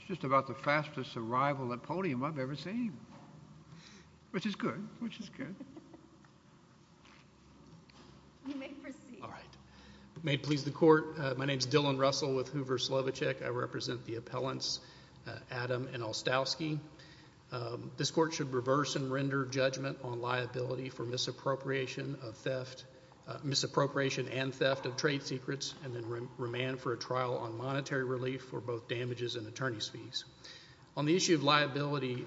It's just about the fastest arrival at podium I've ever seen, which is good, which is good. All right. May it please the court, my name is Dylan Russell with Hoover Slovichek. I represent the appellants Adam and Olstowski. This court should reverse and render judgment on liability for misappropriation of theft, misappropriation and theft of trade secrets, and then remand for a trial on monetary relief for both damages and attorney's fees. On the issue of liability,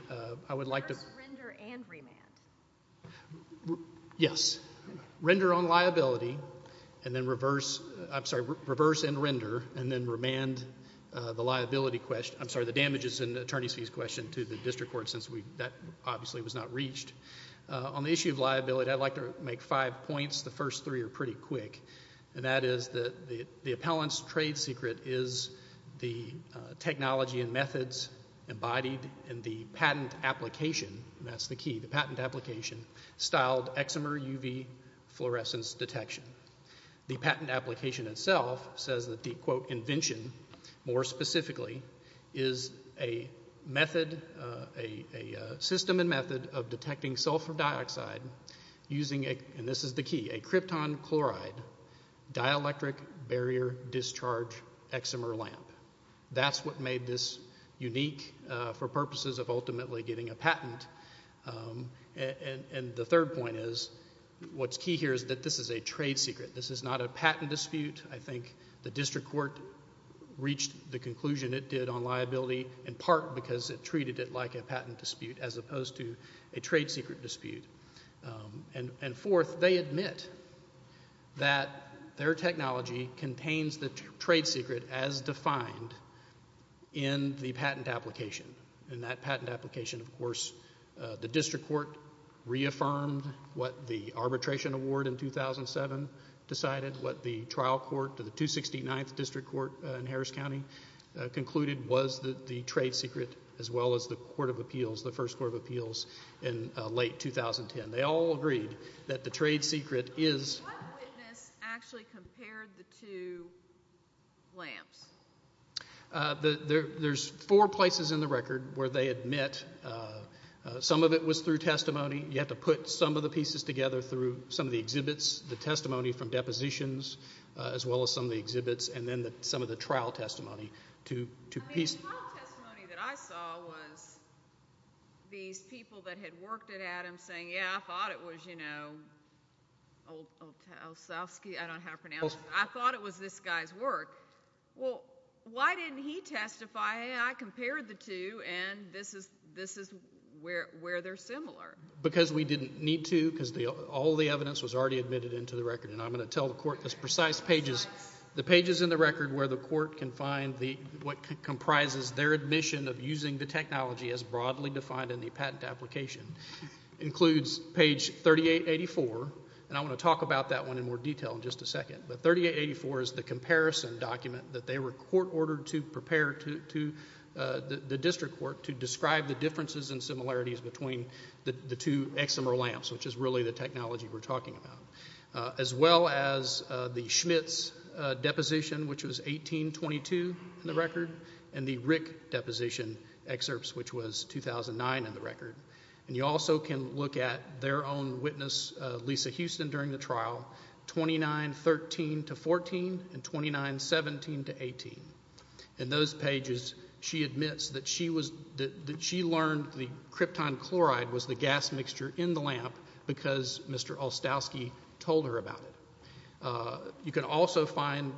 I would like to... Reverse, render, and remand. Yes. Render on liability, and then reverse, I'm sorry, reverse and render, and then remand the liability question, I'm sorry, the damages and attorney's fees question to the district court since that obviously was not reached. On the issue of liability, I'd like to make five points. The first three are pretty quick, and that is that the appellant's trade secret is the technology and methods embodied in the patent application, and that's the key, the patent application, styled eczema UV fluorescence detection. The patent application itself says that the, quote, invention more specifically is a system and method of detecting sulfur dioxide using, and this is the key, a krypton chloride dielectric barrier discharge eczema lamp. That's what made this unique for purposes of ultimately getting a patent, and the third point is what's key here is that this is a trade secret. This is not a patent dispute. I think the district court reached the conclusion it did on liability in part because it treated it like a patent dispute as opposed to a trade secret dispute, and fourth, they admit that their technology contains the trade secret as defined in the patent application, and that patent application, of course, the district court reaffirmed what the arbitration award in 2007 decided, what the trial court to the 269th district court in Harris County concluded was the trade secret as well as the court of appeals, the first court of appeals in late 2010. They all agreed that the trade secret is... What witness actually compared the two lamps? There's four places in the record where they admit some of it was through testimony. You have to put some of the pieces together through some of the exhibits, the testimony from depositions as well as some of the exhibits, and then some of the trial testimony to... The trial testimony that I saw was these people that had worked it at him saying, yeah, I thought it was, you know, Olszewski, I don't know how to pronounce it. I thought it was this guy's work. Well, why didn't he testify, hey, I compared the two, and this is where they're similar? Because we didn't need to, because all the evidence was already admitted into the record, and I'm going to tell the court, those precise pages, the pages in the record where the court can find what comprises their admission of using the technology as broadly defined in the patent application includes page 3884, and I'm going to talk about that one in more detail in just a second, but 3884 is the comparison document that they were court ordered to prepare to the district court to describe the differences and similarities between the two eczema lamps, which is really the technology we're talking about, as well as the Schmitt's deposition, which was 1822 in the record, and the Rick deposition excerpts, which was 2009 in the record, and you also can look at their own witness, Lisa Houston, during the trial, 2913 to 14, and 2917 to 18, and those pages, she admits that she learned the krypton chloride was the gas mixture in the lamp because Mr. Olszewski told her about it. You can also find,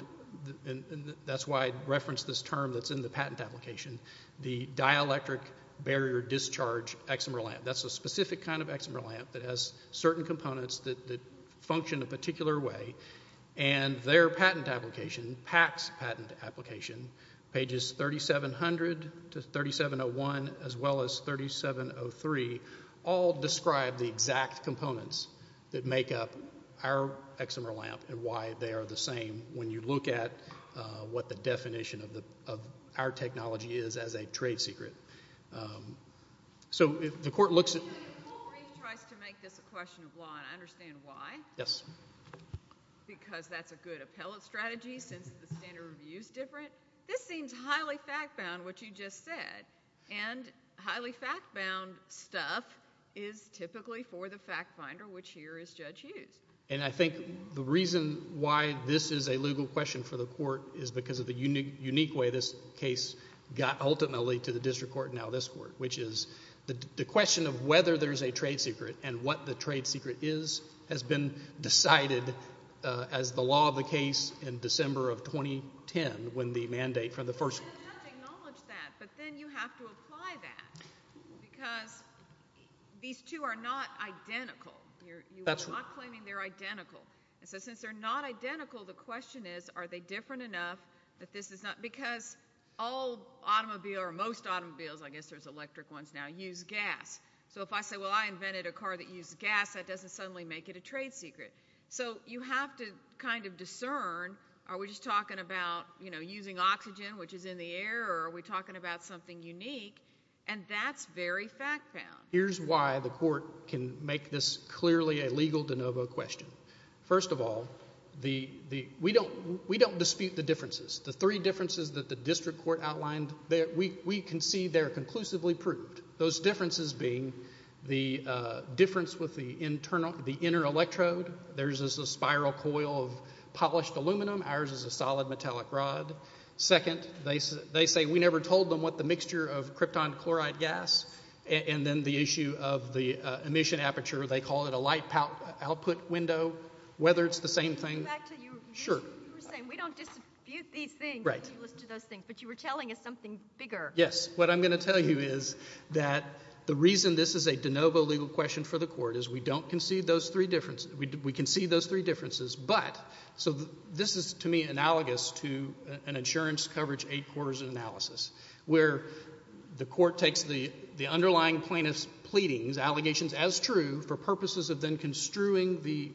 and that's why I referenced this term that's in the patent application, the dielectric barrier discharge eczema lamp. That's a specific kind of eczema lamp that has certain components that function a particular way, and their patent application, PACS patent application, pages 3700 to 3701, as well as 3703, all describe the exact components that make up our eczema lamp and why they are the same when you look at what the definition of our technology is as a trade secret. So if the court looks at... If the court tries to make this a question of law and understand why, because that's a good appellate strategy since the standard review is different, this seems highly fact-bound, which you just said, and highly fact-bound stuff is typically for the fact finder, which here is Judge Hughes. And I think the reason why this is a legal question for the court is because of the unique way this case got ultimately to the district court and now this court, which is the question of whether there's a trade secret and what the trade secret is has been decided as the law of the case in December of 2010 when the mandate from the first... You're not claiming they're identical. And so since they're not identical, the question is, are they different enough that this is not... Because all automobile, or most automobiles, I guess there's electric ones now, use gas. So if I say, well, I invented a car that used gas, that doesn't suddenly make it a trade secret. So you have to kind of discern, are we just talking about, you know, using oxygen, which is in the air, or are we talking about something unique? And that's very fact-bound. Here's why the court can make this clearly a legal de novo question. First of all, we don't dispute the differences. The three differences that the district court outlined, we can see they're conclusively proved. Those differences being the difference with the inner electrode. Theirs is a spiral coil of polished aluminum. Ours is a solid metallic rod. Second, they say we never told them what the chloride gas. And then the issue of the emission aperture, they call it a light output window. Whether it's the same thing... Back to your... Sure. You were saying, we don't dispute these things... Right.... when you listen to those things. But you were telling us something bigger. Yes. What I'm going to tell you is that the reason this is a de novo legal question for the court is, we don't concede those three differences. We concede those three differences, but... So this is, to me, analogous to an insurance coverage eight quarters analysis, where the court takes the underlying plaintiff's pleadings, allegations as true, for purposes of then construing the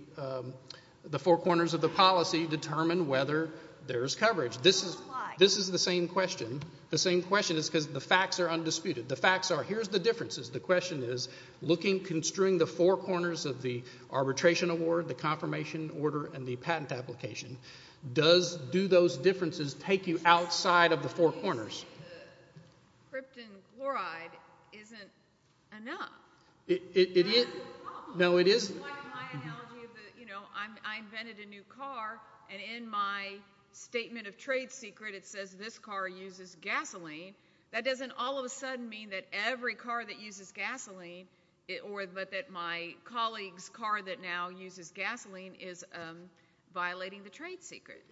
four corners of the policy to determine whether there's coverage. This is... Why? This is the same question. The same question is because the facts are undisputed. The facts are, here's the differences. The question is, looking, construing the four corners of the arbitration award, the confirmation order, and the patent application, does do those differences take you outside of the four corners? Krypton chloride isn't enough. No, it isn't. It's like my analogy of the, you know, I invented a new car, and in my statement of trade secret, it says this car uses gasoline. That doesn't all of a sudden mean that every car that uses gasoline, but that my colleague's car that now uses gasoline is violating the trade secret.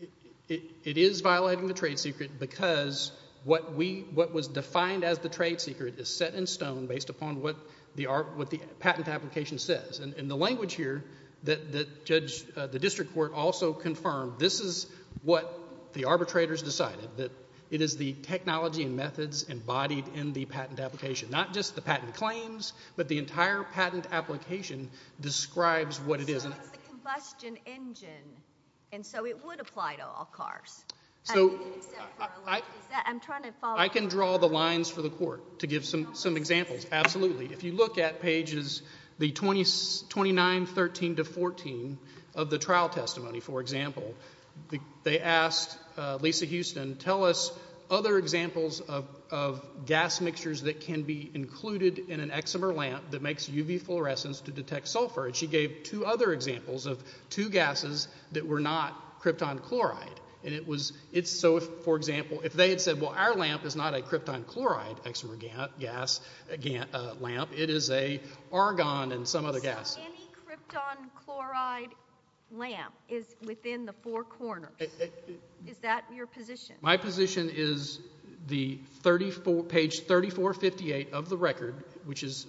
It is violating the trade secret because what was defined as the trade secret is set in stone based upon what the patent application says, and the language here that the district court also confirmed, this is what the arbitrators decided, that it is the technology and methods embodied in the patent application, not just the patent claims, but the entire patent application describes what it is. The combustion engine, and so it would apply to all cars. I can draw the lines for the court to give some examples. Absolutely. If you look at pages the 29, 13 to 14 of the trial testimony, for example, they asked Lisa Houston, tell us other examples of gas mixtures that can be included in an exomer lamp that makes UV fluorescence to detect sulfur, and she gave two other examples of two gases that were not krypton chloride, and it was, so for example, if they had said, well, our lamp is not a krypton chloride exomer gas lamp, it is an argon and some other gas. So any krypton chloride lamp is within the four corners. Is that your position? My position is the 34, page 3458 of the record, which is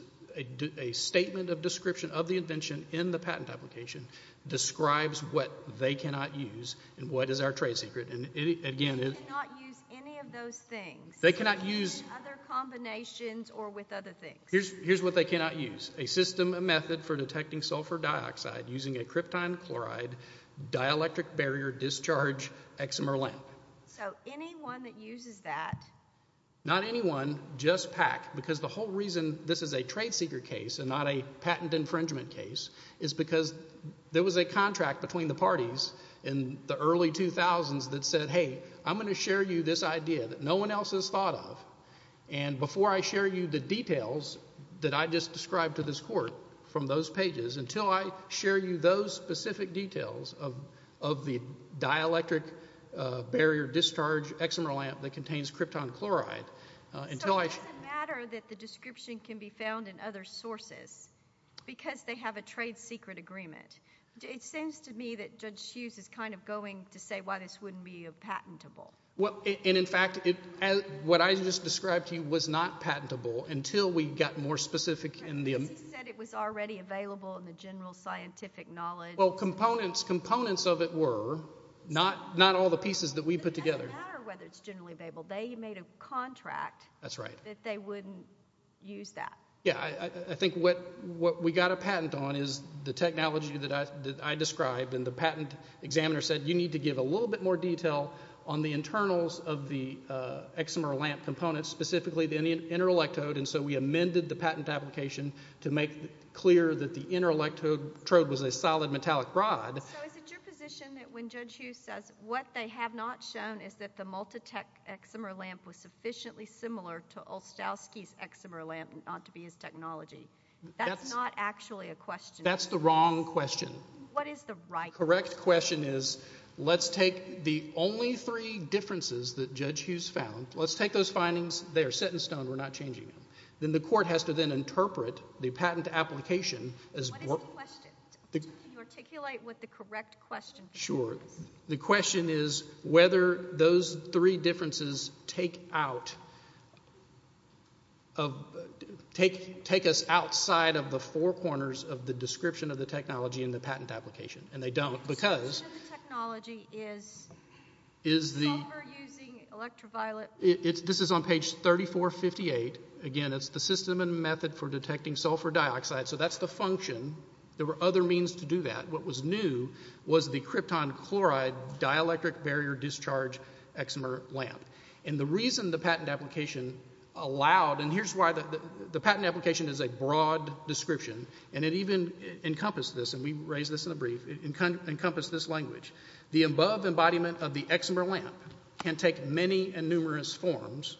a statement of description of the invention in the patent application, describes what they cannot use and what is our trade secret, and again... They cannot use any of those things. They cannot use... Other combinations or with other things. Here's what they cannot use. A system, a method for detecting sulfur dioxide using a krypton chloride dielectric barrier discharge exomer lamp. So anyone that uses that... Not anyone, just PAC, because the whole reason this is a trade secret case and not a patent infringement case is because there was a contract between the parties in the early 2000s that said, hey, I'm going to share you this idea that no one else has thought of, and before I share you the details that I just described to this court from those pages, until I share you those specific details of the dielectric barrier discharge exomer lamp that contains krypton chloride, until I... So it doesn't matter that the description can be found in other sources because they have a trade secret agreement. It seems to me that Judge Hughes is kind of going to say why this wouldn't be patentable. Well, and in fact, what I just described to you was not patentable until we got more specific in the... Well, components of it were, not all the pieces that we put together. It doesn't matter whether it's generally available. They made a contract that they wouldn't use that. Yeah, I think what we got a patent on is the technology that I described and the patent examiner said you need to give a little bit more detail on the internals of the exomer lamp components, specifically the inner electrode, and so we amended the patent application to make clear that the inner electrode was a solid metallic rod. So is it your position that when Judge Hughes says what they have not shown is that the multi-tech exomer lamp was sufficiently similar to Olstowski's exomer lamp not to be his technology, that's not actually a question? That's the wrong question. What is the right... Correct question is, let's take the only three differences that Judge Hughes found, let's take those findings, they are set in stone, we're not changing them. Then the court has to then interpret the patent application as... What is the question? Can you articulate what the correct question is? Sure. The question is whether those three differences take us outside of the four corners of the description of the technology in the patent application, and they don't because... The description of the technology is sulfur using electroviolet... This is on page 3458. Again, it's the system and method for detecting sulfur dioxide, so that's the function. There were other means to do that. What was new was the krypton chloride dielectric barrier discharge exomer lamp, and the reason the patent application allowed... And here's why the patent application is a broad description, and it even encompassed this, and we raised this in a brief, it encompassed this language. The above embodiment of the exomer lamp can take many and numerous forms,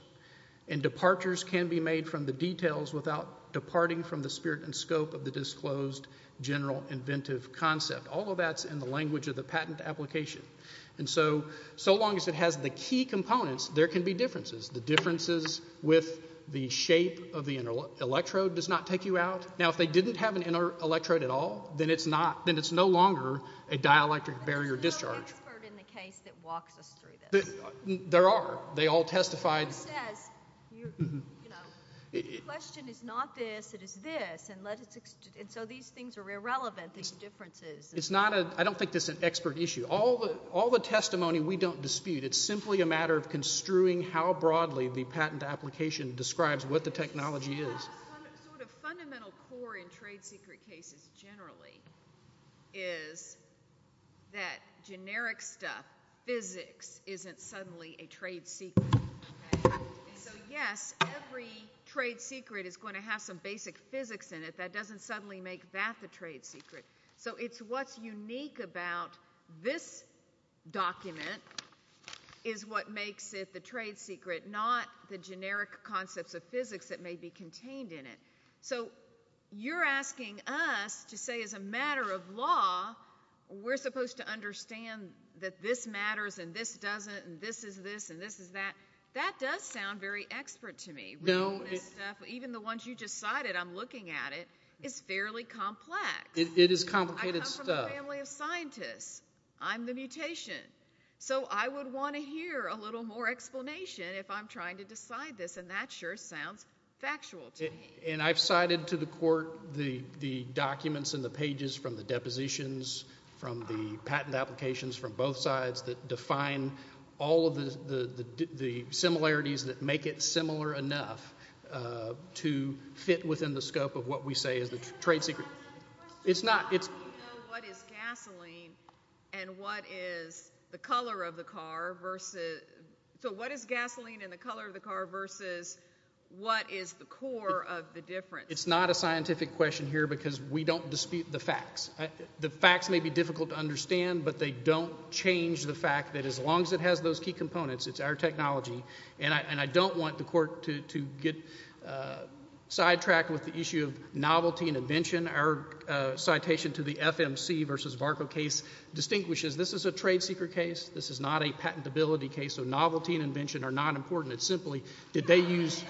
and departures can be made from the details without departing from the spirit and scope of the disclosed general inventive concept. All of that's in the language of the patent application, and so long as it has the key components, there can be differences. The differences with the shape of the electrode does not take you out. Now, if they didn't have an electrode at all, then it's not... There's no expert in the case that walks us through this. There are. They all testified... The question is not this, it is this, and so these things are irrelevant, these differences. I don't think this is an expert issue. All the testimony we don't dispute. It's simply a matter of construing how broadly the patent application describes what the technology is. The sort of fundamental core in trade secret cases generally is that generic stuff, physics, isn't suddenly a trade secret. So yes, every trade secret is going to have some basic physics in it. That doesn't suddenly make that the trade secret. So it's what's unique about this document is what makes it the trade secret, not the contained in it. So you're asking us to say as a matter of law, we're supposed to understand that this matters and this doesn't and this is this and this is that. That does sound very expert to me. Even the ones you just cited, I'm looking at it, is fairly complex. It is complicated stuff. I come from a family of scientists. I'm the mutation. So I would want to hear a little more explanation if I'm trying to decide this, and that sure sounds factual to me. And I've cited to the court the documents and the pages from the depositions from the patent applications from both sides that define all of the similarities that make it similar enough to fit within the scope of what we say is the trade secret. It's not. You know what is gasoline and what is the color of the car versus, so what is gasoline and the color of the car versus what is the core of the difference? It's not a scientific question here because we don't dispute the facts. The facts may be difficult to understand, but they don't change the fact that as long as it has those key components, it's our technology and I don't want the court to get sidetracked with the issue of novelty and invention. Our citation to the FMC versus VARCO case distinguishes this is a trade secret case. This is not a patentability case. So novelty and invention are not important. It's simply, did they use...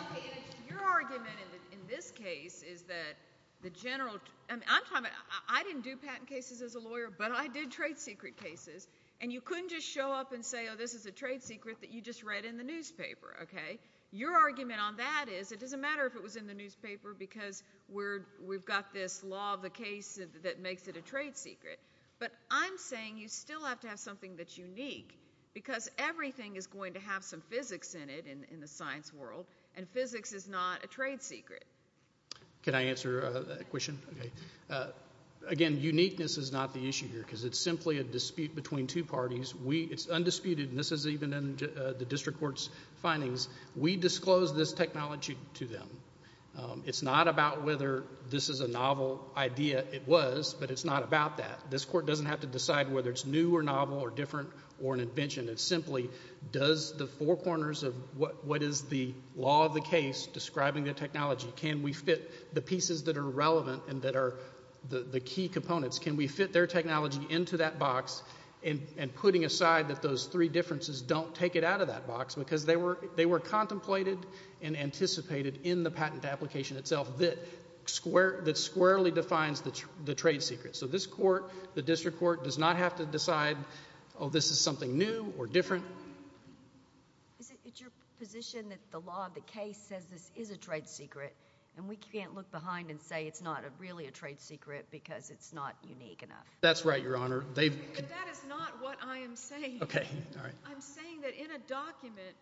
Your argument in this case is that the general... I didn't do patent cases as a lawyer, but I did trade secret cases. And you couldn't just show up and say, oh, this is a trade secret that you just read in the newspaper, okay? Your argument on that is it doesn't matter if it was in the newspaper because we've got this law of the case that makes it a trade secret. But I'm saying you still have to have something that's unique because everything is going to have some physics in it in the science world and physics is not a trade secret. Can I answer a question? Okay. Again, uniqueness is not the issue here because it's simply a dispute between two parties. It's undisputed, and this is even in the district court's findings. We disclosed this technology to them. It's not about whether this is a novel idea. It was, but it's not about that. This court doesn't have to decide whether it's new or novel or different or an invention. It simply does the four corners of what is the law of the case describing the technology. Can we fit the pieces that are relevant and that are the key components? Can we fit their technology into that box and putting aside that those three differences don't take it out of that box because they were contemplated and anticipated in the patent application itself that squarely defines the trade secret. So this court, the district court, does not have to decide, oh, this is something new or different. Is it your position that the law of the case says this is a trade secret and we can't look behind and say it's not really a trade secret because it's not unique enough? That's right, Your Honor. That is not what I am saying. Okay. All right. I'm saying that in a document,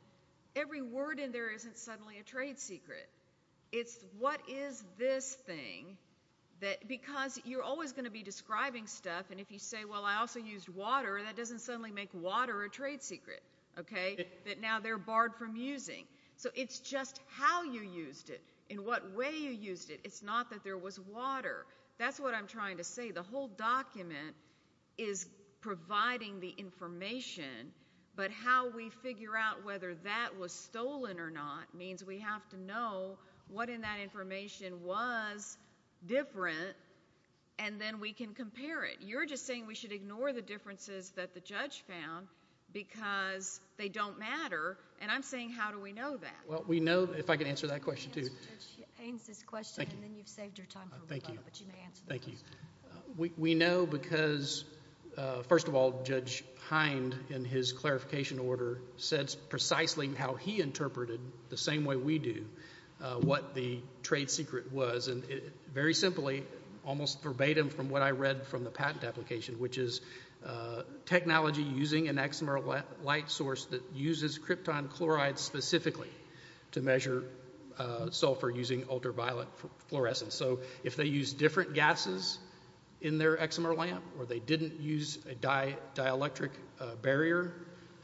every word in there isn't suddenly a trade secret. It's what is this thing that, because you're always going to be describing stuff and if you say, well, I also used water, that doesn't suddenly make water a trade secret, okay, that now they're barred from using. So it's just how you used it, in what way you used it. It's not that there was water. That's what I'm trying to say. The whole document is providing the information, but how we figure out whether that was stolen or not means we have to know what in that information was different and then we can compare it. You're just saying we should ignore the differences that the judge found because they don't matter and I'm saying how do we know that? Well, we know, if I can answer that question too. Judge Haynes's question and then you've saved your time for a while, but you may answer the question. Thank you. We know because, first of all, Judge Hynde, in his clarification order, said precisely how he interpreted, the same way we do, what the trade secret was. Very simply, almost verbatim from what I read from the patent application, which is technology using an XMR light source that uses krypton chloride specifically to measure sulfur using ultraviolet fluorescence. If they use different gases in their XMR lamp or they didn't use a dielectric barrier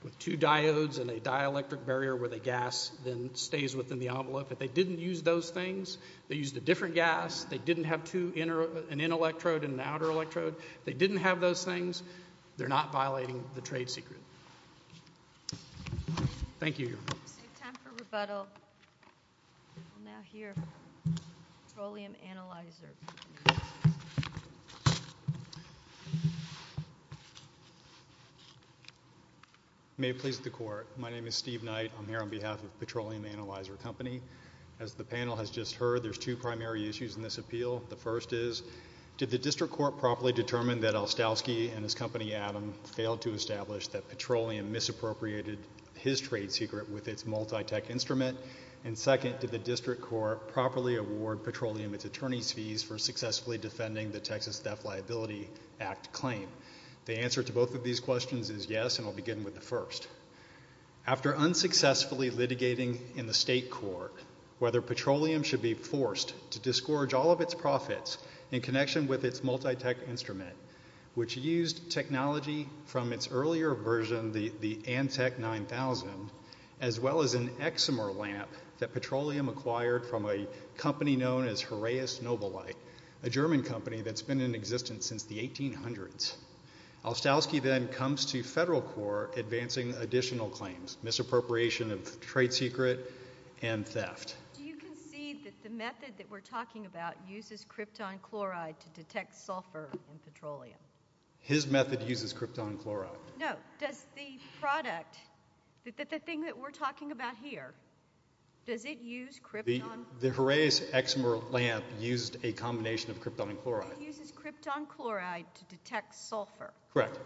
with two diodes and a dielectric barrier where the gas then stays within the envelope, if they didn't use those things, they used a different gas, they didn't have an in electrode and an outer electrode, they didn't have those things, they're not violating the trade secret. Thank you. We'll now hear Petroleum Analyzer. May it please the court. My name is Steve Knight. I'm here on behalf of Petroleum Analyzer Company. As the panel has just heard, there's two primary issues in this appeal. The first is, did the district court properly determine that Olstowski and his company, Adam, failed to establish that Petroleum misappropriated his trade secret with its multi-tech instrument? And second, did the district court properly award Petroleum its attorney's fees for successfully defending the Texas Theft Liability Act claim? The answer to both of these questions is yes, and I'll begin with the first. After unsuccessfully litigating in the state court whether Petroleum should be forced to earlier version, the Antec 9000, as well as an eczema lamp that Petroleum acquired from a company known as Horaeus Noble Light, a German company that's been in existence since the 1800s, Olstowski then comes to federal court advancing additional claims, misappropriation of trade secret and theft. Do you concede that the method that we're talking about uses krypton chloride to detect sulfur in Petroleum? His method uses krypton chloride. No. Does the product, the thing that we're talking about here, does it use krypton? The Horaeus eczema lamp used a combination of krypton chloride. It uses krypton chloride to detect sulfur. Correct.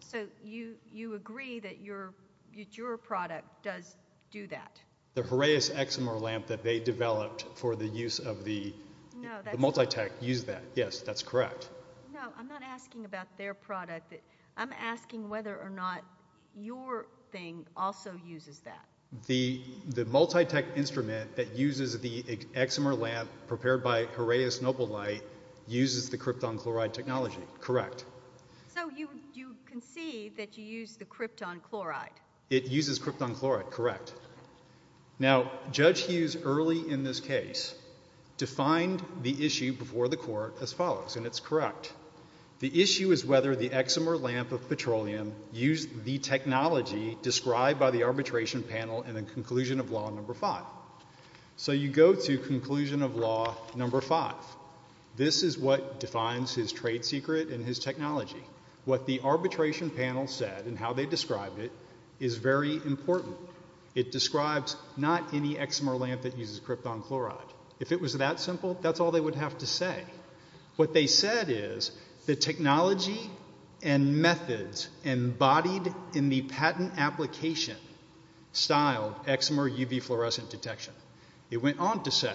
So, you agree that your product does do that? The Horaeus eczema lamp that they developed for the use of the multi-tech used that. Yes, that's correct. No, I'm not asking about their product. I'm asking whether or not your thing also uses that. The multi-tech instrument that uses the eczema lamp prepared by Horaeus Noble Light uses the krypton chloride technology. Correct. So, you concede that you use the krypton chloride? It uses krypton chloride. Correct. Now, Judge Hughes early in this case defined the issue before the court as follows, and that's correct. The issue is whether the eczema lamp of petroleum used the technology described by the arbitration panel in the conclusion of law number five. So, you go to conclusion of law number five. This is what defines his trade secret and his technology. What the arbitration panel said and how they described it is very important. It describes not any eczema lamp that uses krypton chloride. If it was that simple, that's all they would have to say. What they said is the technology and methods embodied in the patent application styled eczema or UV fluorescent detection. It went on to say,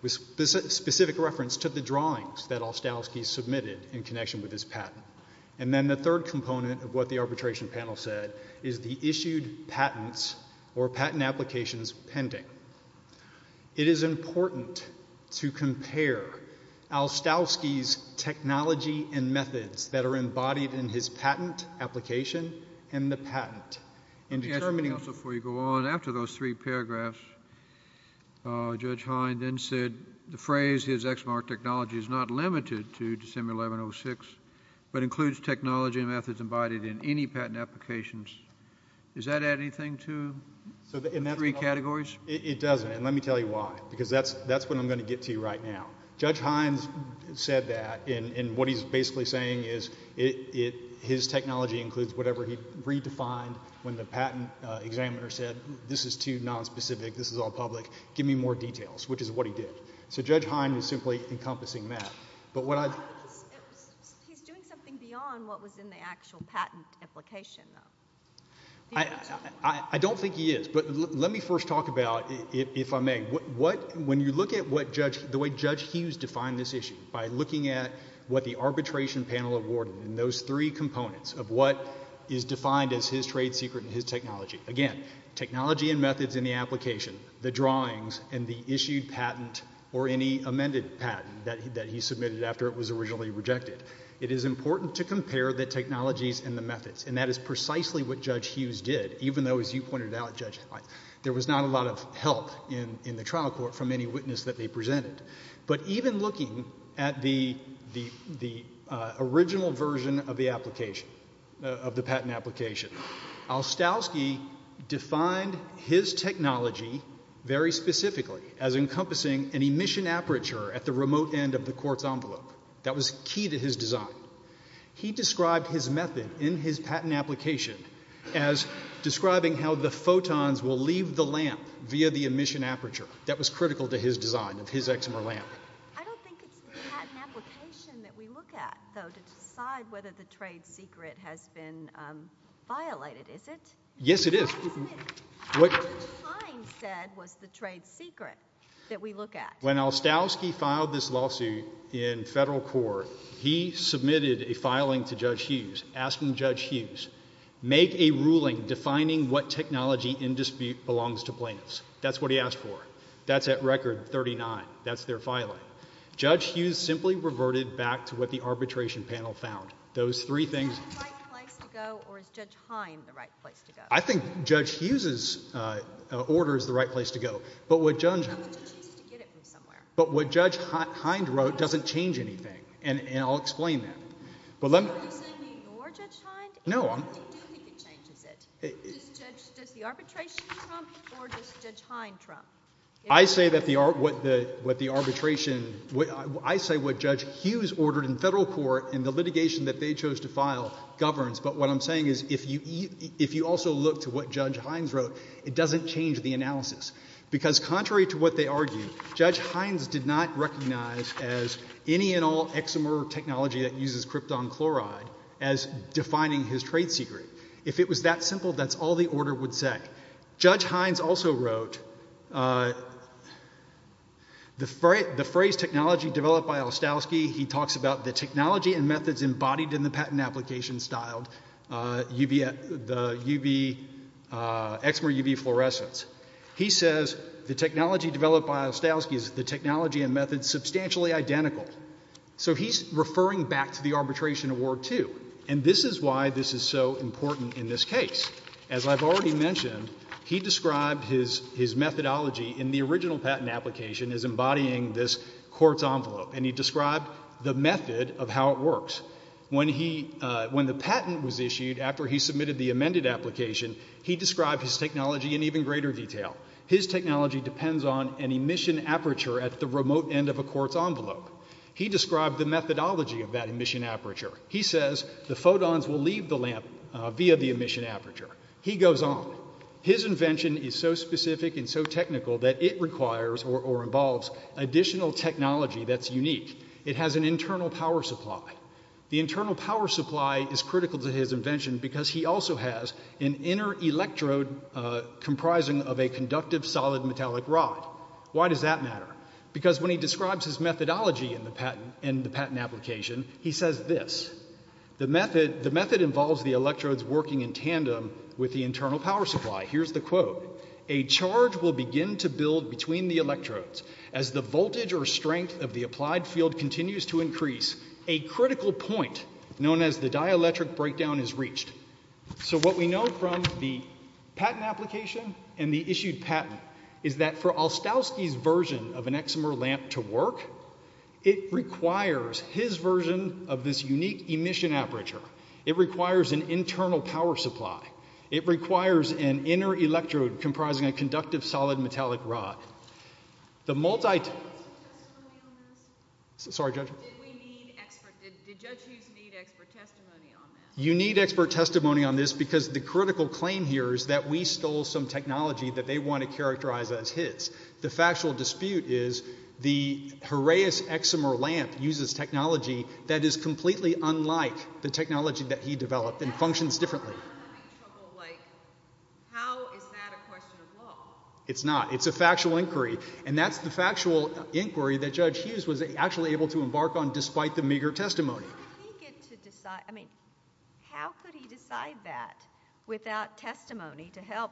with specific reference to the drawings that Olstowski submitted in connection with his patent. And then the third component of what the arbitration panel said is the issued patents or patent applications pending. It is important to compare Olstowski's technology and methods that are embodied in his patent application and the patent in determining— Let me ask you something else before you go on. After those three paragraphs, Judge Hind then said the phrase, his eczema technology is not limited to December 11, 06, but includes technology and methods embodied in any patent applications. Does that add anything to the three categories? It doesn't. And let me tell you why. Because that's what I'm going to get to right now. Judge Hind said that, and what he's basically saying is his technology includes whatever he redefined when the patent examiner said, this is too nonspecific, this is all public, give me more details, which is what he did. So Judge Hind is simply encompassing that. But what I— He's doing something beyond what was in the actual patent application, though. I don't think he is. Let me first talk about, if I may, what—when you look at what Judge—the way Judge Hughes defined this issue, by looking at what the arbitration panel awarded and those three components of what is defined as his trade secret and his technology, again, technology and methods in the application, the drawings and the issued patent or any amended patent that he submitted after it was originally rejected. It is important to compare the technologies and the methods, and that is precisely what Judge Hind did. There was not a lot of help in the trial court from any witness that they presented. But even looking at the original version of the application, of the patent application, Olstowski defined his technology very specifically as encompassing an emission aperture at the remote end of the court's envelope. That was key to his design. He described his method in his patent application as describing how the photons will leave the lamp via the emission aperture. That was critical to his design of his Exmer lamp. I don't think it's the patent application that we look at, though, to decide whether the trade secret has been violated, is it? Yes, it is. Isn't it? What— What Judge Hind said was the trade secret that we look at. When Olstowski filed this lawsuit in federal court, he submitted a filing to Judge Hughes, asking Judge Hughes, make a ruling defining what technology in dispute belongs to plaintiffs. That's what he asked for. That's at record 39. That's their filing. Judge Hughes simply reverted back to what the arbitration panel found. Those three things— Is that the right place to go, or is Judge Hind the right place to go? I think Judge Hughes's order is the right place to go. But what Judge— I'm going to choose to get it from somewhere. But what Judge Hind wrote doesn't change anything, and I'll explain that. But let me— Are you saying that you're Judge Hind? No, I'm— I do think it changes it. Does the arbitration trump, or does Judge Hind trump? I say that the—what the arbitration—I say what Judge Hughes ordered in federal court in the litigation that they chose to file governs. But what I'm saying is, if you also look to what Judge Hind wrote, it doesn't change the analysis. Because contrary to what they argued, Judge Hind did not recognize as any and all eczema technology that uses krypton chloride as defining his trade secret. If it was that simple, that's all the order would say. Judge Hind also wrote the phrase technology developed by Ostowski. He talks about the technology and methods embodied in the patent application styled UV—the UV—eczema UV fluorescence. He says the technology developed by Ostowski is the technology and methods substantially identical. So he's referring back to the arbitration award, too. And this is why this is so important in this case. As I've already mentioned, he described his methodology in the original patent application as embodying this court's envelope, and he described the method of how it works. When he—when the patent was issued, after he submitted the amended application, he described his technology in even greater detail. His technology depends on an emission aperture at the remote end of a court's envelope. He described the methodology of that emission aperture. He says the photons will leave the lamp via the emission aperture. He goes on. His invention is so specific and so technical that it requires or involves additional technology that's unique. It has an internal power supply. The internal power supply is critical to his invention because he also has an inner electrode comprising of a conductive solid metallic rod. Why does that matter? Because when he describes his methodology in the patent application, he says this. The method involves the electrodes working in tandem with the internal power supply. Here's the quote. A charge will begin to build between the electrodes. As the voltage or strength of the applied field continues to increase, a critical point, known as the dielectric breakdown, is reached. So what we know from the patent application and the issued patent is that for Olstowski's version of an Exomer lamp to work, it requires his version of this unique emission aperture. It requires an internal power supply. It requires an inner electrode comprising a conductive solid metallic rod. The multi- Do we need expert testimony on this? Sorry, Judge. Do we need expert? Did Judge Hughes need expert testimony on this? You need expert testimony on this because the critical claim here is that we stole some technology that they want to characterize as his. The factual dispute is the Horaeus Exomer lamp uses technology that is completely unlike the technology that he developed and functions differently. I'm having trouble, like, how is that a question of law? It's not. It's a factual inquiry. And that's the factual inquiry that Judge Hughes was actually able to embark on despite the meager testimony. How did he get to decide, I mean, how could he decide that without testimony to help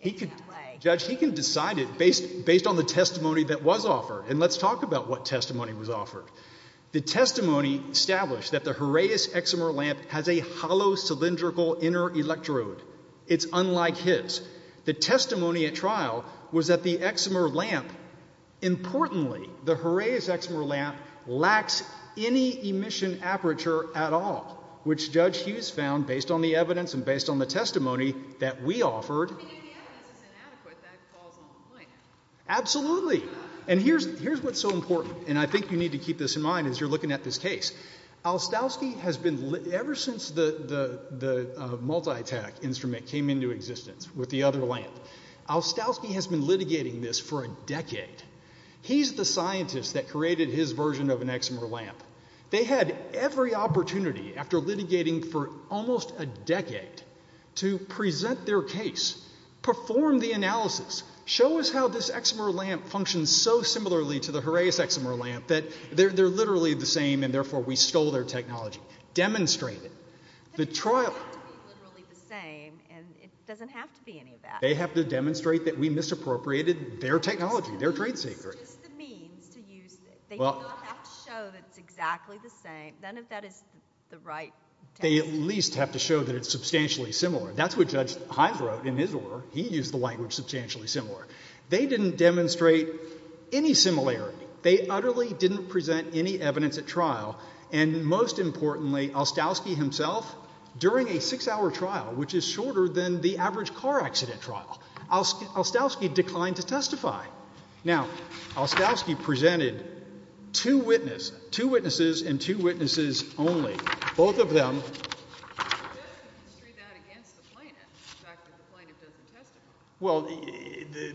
in that way? Judge, he can decide it based on the testimony that was offered. And let's talk about what testimony was offered. The testimony established that the Horaeus Exomer lamp has a hollow cylindrical inner electrode. It's unlike his. The testimony at trial was that the Exomer lamp, importantly, the Horaeus Exomer lamp lacks any emission aperture at all, which Judge Hughes found based on the evidence and based on the testimony that we offered. And the evidence is inadequate, that falls on point. Absolutely. And here's what's so important, and I think you need to keep this in mind as you're looking at this case. Alstowski has been, ever since the multi-tach instrument came into existence with the other lamp, Alstowski has been litigating this for a decade. He's the scientist that created his version of an Exomer lamp. They had every opportunity after litigating for almost a decade to present their case, perform the analysis, show us how this Exomer lamp functions so similarly to the Horaeus Exomer lamp, that they're literally the same and therefore we stole their technology. Demonstrate it. They don't have to be literally the same, and it doesn't have to be any of that. They have to demonstrate that we misappropriated their technology, their trade secret. It's just the means to use it. They don't have to show that it's exactly the same, none of that is the right test. They at least have to show that it's substantially similar. That's what Judge Hines wrote in his order. He used the language substantially similar. They didn't demonstrate any similarity. They utterly didn't present any evidence at trial, and most importantly, Alstowski himself, during a six-hour trial, which is shorter than the average car accident trial, Alstowski declined to testify. Now, Alstowski presented two witnesses, two witnesses and two witnesses only. Both of them... He doesn't construe that against the plaintiff, the fact that the plaintiff doesn't testify. Well,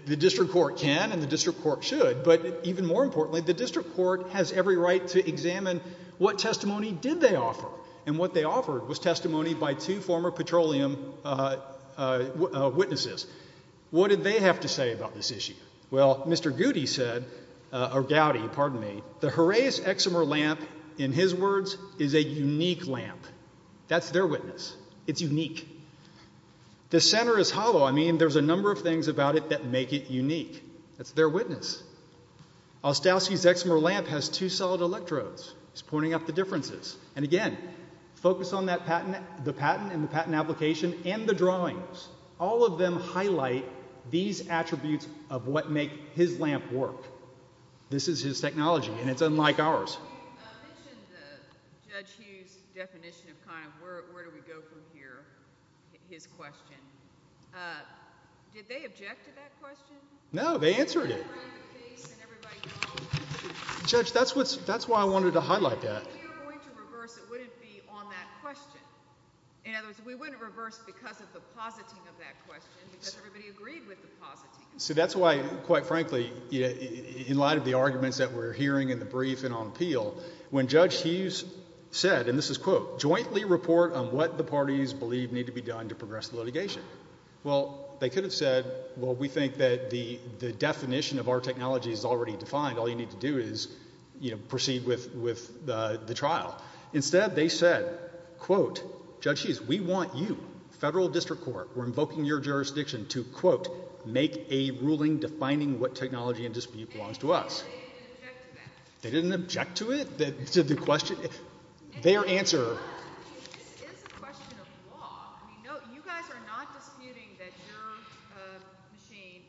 the district court can, and the district court should, but even more importantly, the district court has every right to examine what testimony did they offer, and what they offered was testimony by two former petroleum witnesses. What did they have to say about this issue? Well, Mr. Gowdy said, the Horaeus Eximer lamp, in his words, is a unique lamp. That's their witness. It's unique. The center is hollow. I mean, there's a number of things about it that make it unique. That's their witness. Alstowski's Eximer lamp has two solid electrodes. He's pointing out the differences, and again, focus on the patent and the patent application and the drawings. All of them highlight these attributes of what make his lamp work. This is his technology, and it's unlike ours. You mentioned Judge Hughes' definition of kind of where do we go from here, his question. Did they object to that question? No, they answered it. They ran their face, and everybody got on with it. Judge, that's why I wanted to highlight that. If we were going to reverse, it wouldn't be on that question. In other words, we wouldn't reverse because of the positing of that question, because everybody agreed with the positing. So that's why, quite frankly, in light of the arguments that we're hearing in the brief and on appeal, when Judge Hughes said, and this is quote, jointly report on what the parties believe need to be done to progress the litigation. Well, they could have said, well, we think that the definition of our technology is already defined. All you need to do is proceed with the trial. Instead, they said, quote, Judge Hughes, we want you, federal district court, we're invoking your jurisdiction to, quote, make a ruling defining what technology and dispute belongs to us. They didn't object to that. They didn't object to it? To the question? Their answer. This is a question of law. You guys are not disputing that your machine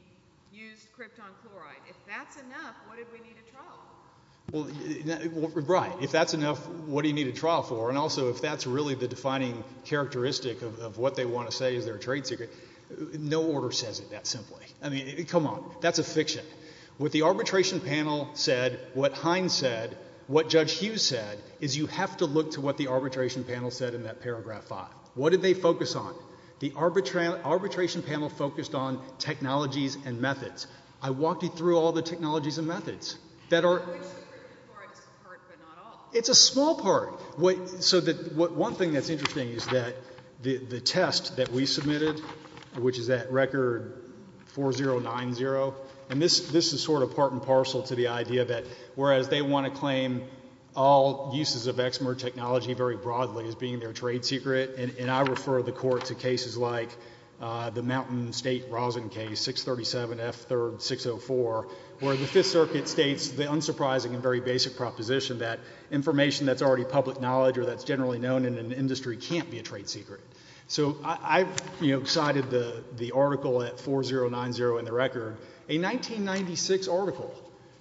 used krypton chloride. If that's enough, what do we need a trial for? Right. If that's enough, what do you need a trial for? And also, if that's really the defining characteristic of what they want to say is their trade secret, no order says it that simply. I mean, come on. That's a fiction. What the arbitration panel said, what Hines said, what Judge Hughes said, is you have to look to what the arbitration panel said in that paragraph five. What did they focus on? The arbitration panel focused on technologies and methods. I walked you through all the technologies and methods that are. It's a small part. So one thing that's interesting is that the test that we submitted, which is that record 4090, and this is sort of part and parcel to the idea that whereas they want to claim all uses of Exmer technology very broadly as being their trade secret, and I refer the court to cases like the Mountain State Rosin case, 637 F 3rd 604, where the Fifth Circuit states the unsurprising and very basic proposition that information that's already public knowledge or that's generally known in an industry can't be a trade secret. So I cited the article at 4090 in the record, a 1996 article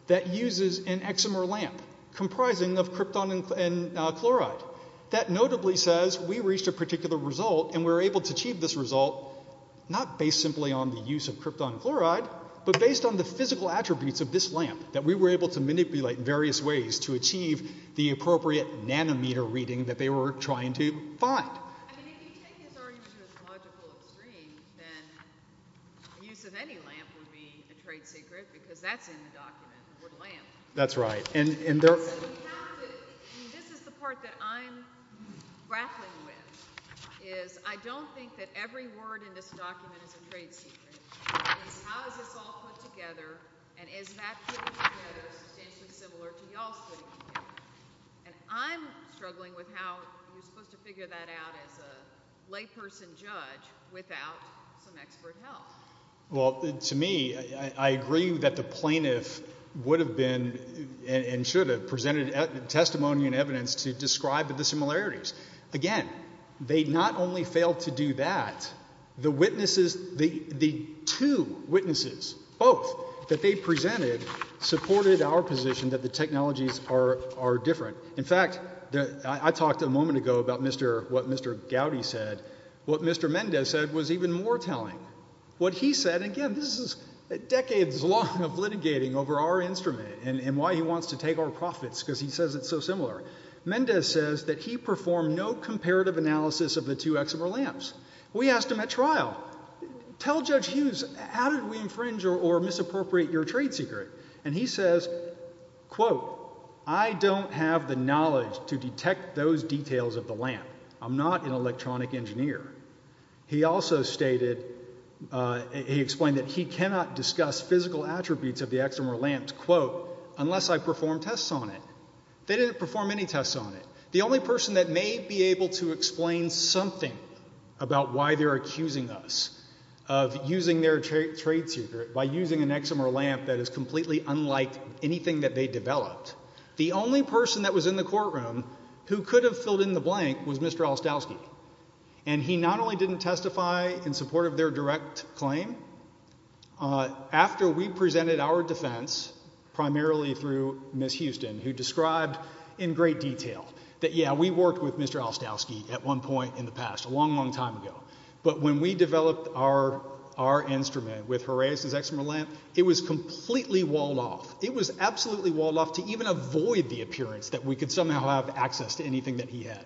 that uses an Exmer lamp comprising of krypton and chloride that notably says we reached a particular result and we were able to achieve this result not based simply on the use of krypton chloride, but based on the physical attributes of this lamp that we were able to manipulate in various ways to achieve the appropriate nanometer reading that they were trying to find. If anything is already within the logical extreme, then the use of any lamp would be a trade secret because that's in the document, the word lamp. That's right. And this is the part that I'm grappling with, is I don't think that every word in this document is a trade secret. It's how is this all put together and is that putting together substantially similar to y'all's putting it together? And I'm struggling with how you're supposed to figure that out as a layperson judge without some expert help. Well, to me, I agree that the plaintiff would have been and should have presented testimony and evidence to describe the similarities. Again, they not only failed to do that, the witnesses, the two witnesses, both that they presented, supported our position that the technologies are different. In fact, I talked a moment ago about what Mr. Gowdy said. What Mr. Mendez said was even more telling. What he said, again, this is decades long of litigating over our instrument and why he wants to take our profits because he says it's so similar. Mendez says that he performed no comparative analysis of the two Exemer lamps. We asked him at trial, tell Judge Hughes, how did we infringe or misappropriate your trade secret? And he says, quote, I don't have the knowledge to detect those details of the lamp. I'm not an electronic engineer. He also stated, he explained that he cannot discuss physical attributes of the Exemer lamps, quote, unless I perform tests on it. They didn't perform any tests on it. The only person that may be able to explain something about why they're accusing us of using their trade secret by using an Exemer lamp that is completely unlike anything that they developed, the only person that was in the courtroom who could have filled in the blank was Mr. Olstowski. And he not only didn't testify in support of their direct claim, after we presented our defense, primarily through Ms. Houston, who described in great detail that, yeah, we worked with Mr. Olstowski at one point in the past, a long, long time ago. But when we developed our instrument with Horatius' Exemer lamp, it was completely walled off. It was absolutely walled off to even avoid the appearance that we could somehow have access to anything that he had.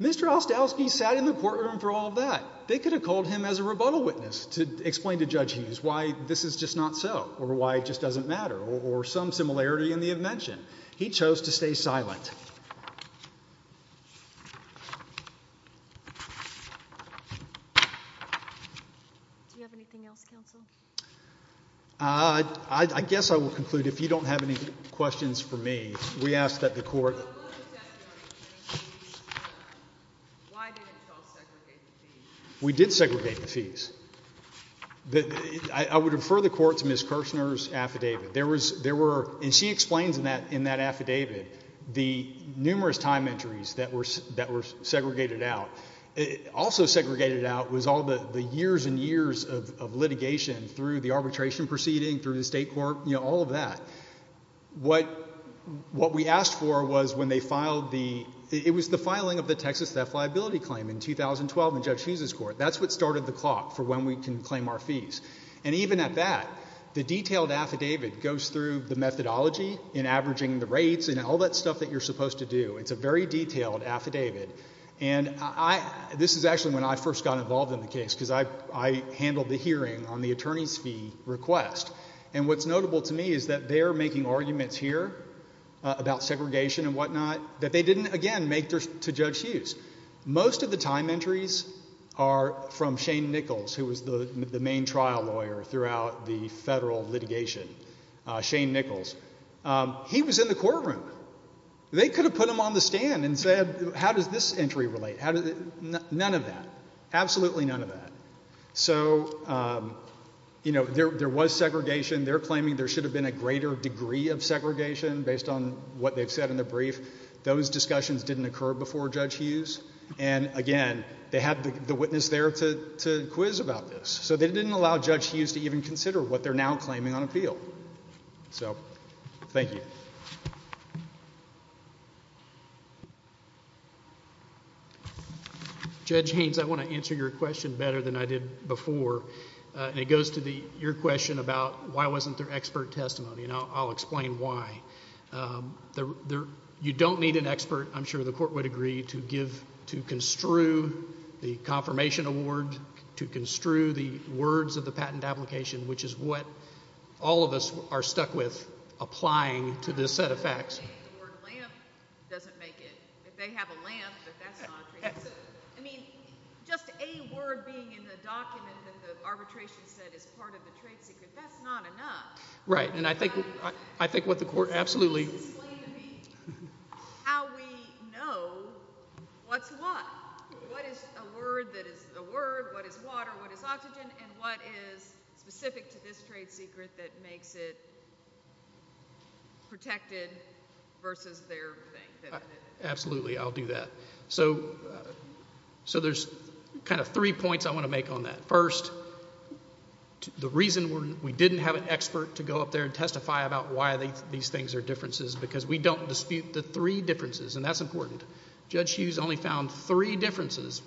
Mr. Olstowski sat in the courtroom for all of that. They could have called him as a rebuttal witness to explain to Judge Hughes why this is just not so, or why it just doesn't matter, or some similarity in the invention. He chose to stay silent. Do you have anything else, counsel? I guess I will conclude. If you don't have any questions for me, we asked that the court— But what was the testimony claim to be? Why didn't you all segregate the fees? We did segregate the fees. I would refer the court to Ms. Kirchner's affidavit. And she explains in that affidavit the numerous time entries that were segregated out, also segregated out was all the years and years of litigation through the arbitration proceeding, through the state court, you know, all of that. What we asked for was when they filed the—it was the filing of the Texas theft liability claim in 2012 in Judge Hughes' court. That's what started the clock for when we can claim our fees. And even at that, the detailed affidavit goes through the methodology in averaging the rates and all that stuff that you're supposed to do. It's a very detailed affidavit. And this is actually when I first got involved in the case because I handled the hearing on the attorney's fee request. And what's notable to me is that they're making arguments here about segregation and whatnot that they didn't, again, make to Judge Hughes. Most of the time entries are from Shane Nichols, who was the main trial lawyer throughout the federal litigation, Shane Nichols. He was in the courtroom. They could have put him on the stand and said, how does this entry relate? None of that. Absolutely none of that. So, you know, there was segregation. They're claiming there should have been a greater degree of segregation based on what they've said in the brief. Those discussions didn't occur before Judge Hughes. And again, they had the witness there to quiz about this. So they didn't allow Judge Hughes to even consider what they're now claiming on appeal. So, thank you. Judge Haynes, I want to answer your question better than I did before. And it goes to your question about why wasn't there expert testimony, and I'll explain why. You don't need an expert, I'm sure the court would agree, to construe the confirmation award, to construe the words of the patent application, which is what all of us are stuck with, applying to this set of facts. The word lamp doesn't make it. If they have a lamp, that's not a trade secret. I mean, just a word being in the document that the arbitration said is part of the trade secret, that's not enough. Right. And I think what the court, absolutely. Can you explain to me how we know what's what? What is a word that is a word? What is water? What is oxygen? And what is specific to this trade secret that makes it protected versus their thing? Absolutely, I'll do that. So, there's kind of three points I want to make on that. First, the reason we didn't have an expert to go up there and testify about why these things are differences, because we don't dispute the three differences, and that's important. Judge Hughes only found three differences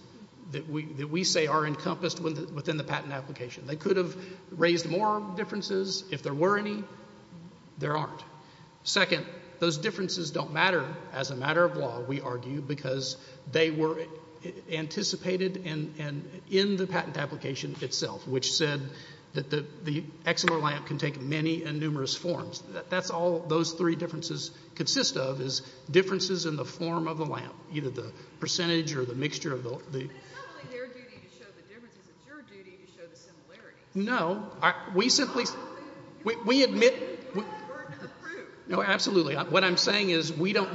that we say are encompassed within the patent application. They could have raised more differences. If there were any, there aren't. Second, those differences don't matter as a matter of law, we argue, because they were anticipated in the patent application itself, which said that the Exelor lamp can take many and numerous forms. That's all those three differences consist of, is differences in the form of the lamp, either the percentage or the mixture. But it's not only their duty to show the differences. It's your duty to show the similarities. No, we simply, we admit, no, absolutely. What I'm saying is we don't,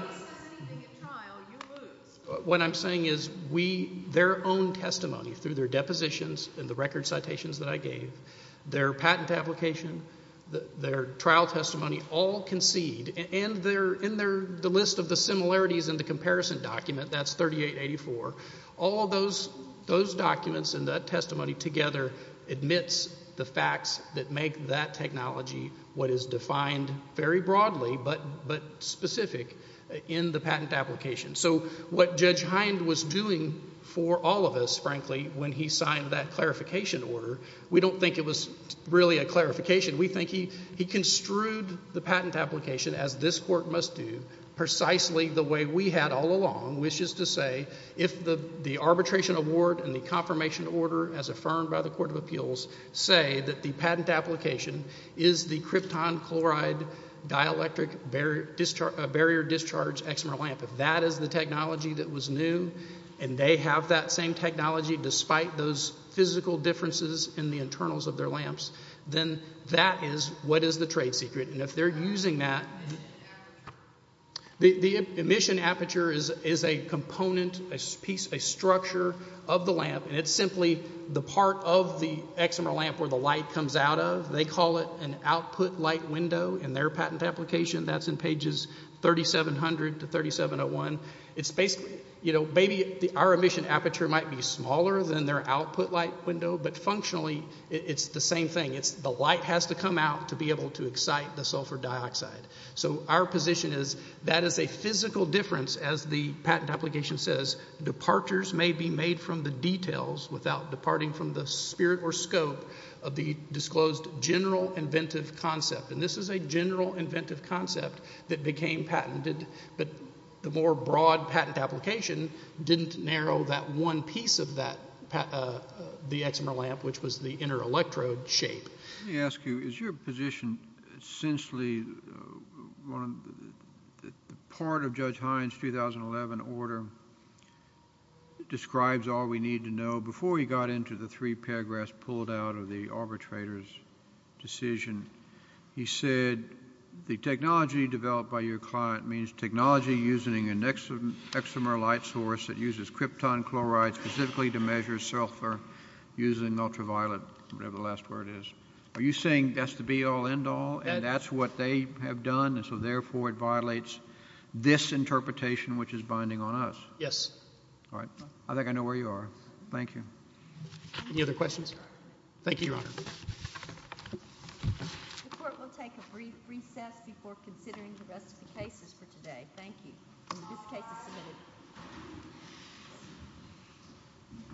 what I'm saying is we, their own testimony through their depositions and the record citations that I gave, their patent application, their trial testimony all concede, and they're, in their, the list of the similarities in the comparison document, that's 3884, all those documents and that testimony together admits the facts that make that technology what is defined very broadly, but specific in the patent application. So what Judge Hind was doing for all of us, frankly, when he signed that clarification order, we don't think it was really a clarification. We think he construed the patent application, as this Court must do, precisely the way we had all along, which is to say, if the arbitration award and the confirmation order as affirmed by the Court of Appeals say that the patent application is the krypton chloride dielectric barrier discharge Exelor lamp, if that is the technology that was new, and they have that same technology despite those physical differences in the internals of their lamps, then that is what is the trade secret, and if they're using that, the emission aperture is a component, a piece, a structure of the lamp, and it's simply the part of the Exelor lamp where the light comes out of. They call it an output light window in their patent application. That's in pages 3700 to 3701. It's basically, you know, maybe our emission aperture might be smaller than their output light window, but functionally it's the same thing. The light has to come out to be able to excite the sulfur dioxide. So our position is that is a physical difference, as the patent application says. Departures may be made from the details without departing from the spirit or scope of the disclosed general inventive concept, and this is a general inventive concept that became patented, but the more broad patent application didn't narrow that one piece of that, the Exelor lamp, which was the inner electrode shape. Let me ask you, is your position essentially one of the, part of Judge Hines' 2011 order describes all we need to know. Before he got into the three paragraphs pulled out of the arbitrator's decision, he said the technology developed by your client means technology using an exomer light source that uses krypton chloride specifically to measure sulfur using ultraviolet, whatever the last word is. Are you saying that's the be all end all and that's what they have done and so therefore it violates this interpretation which is binding on us? Yes. All right. I think I know where you are. Thank you. Any other questions? Thank you, Your Honor. The court will take a brief recess before considering the rest of the cases for today. Thank you. This case is submitted.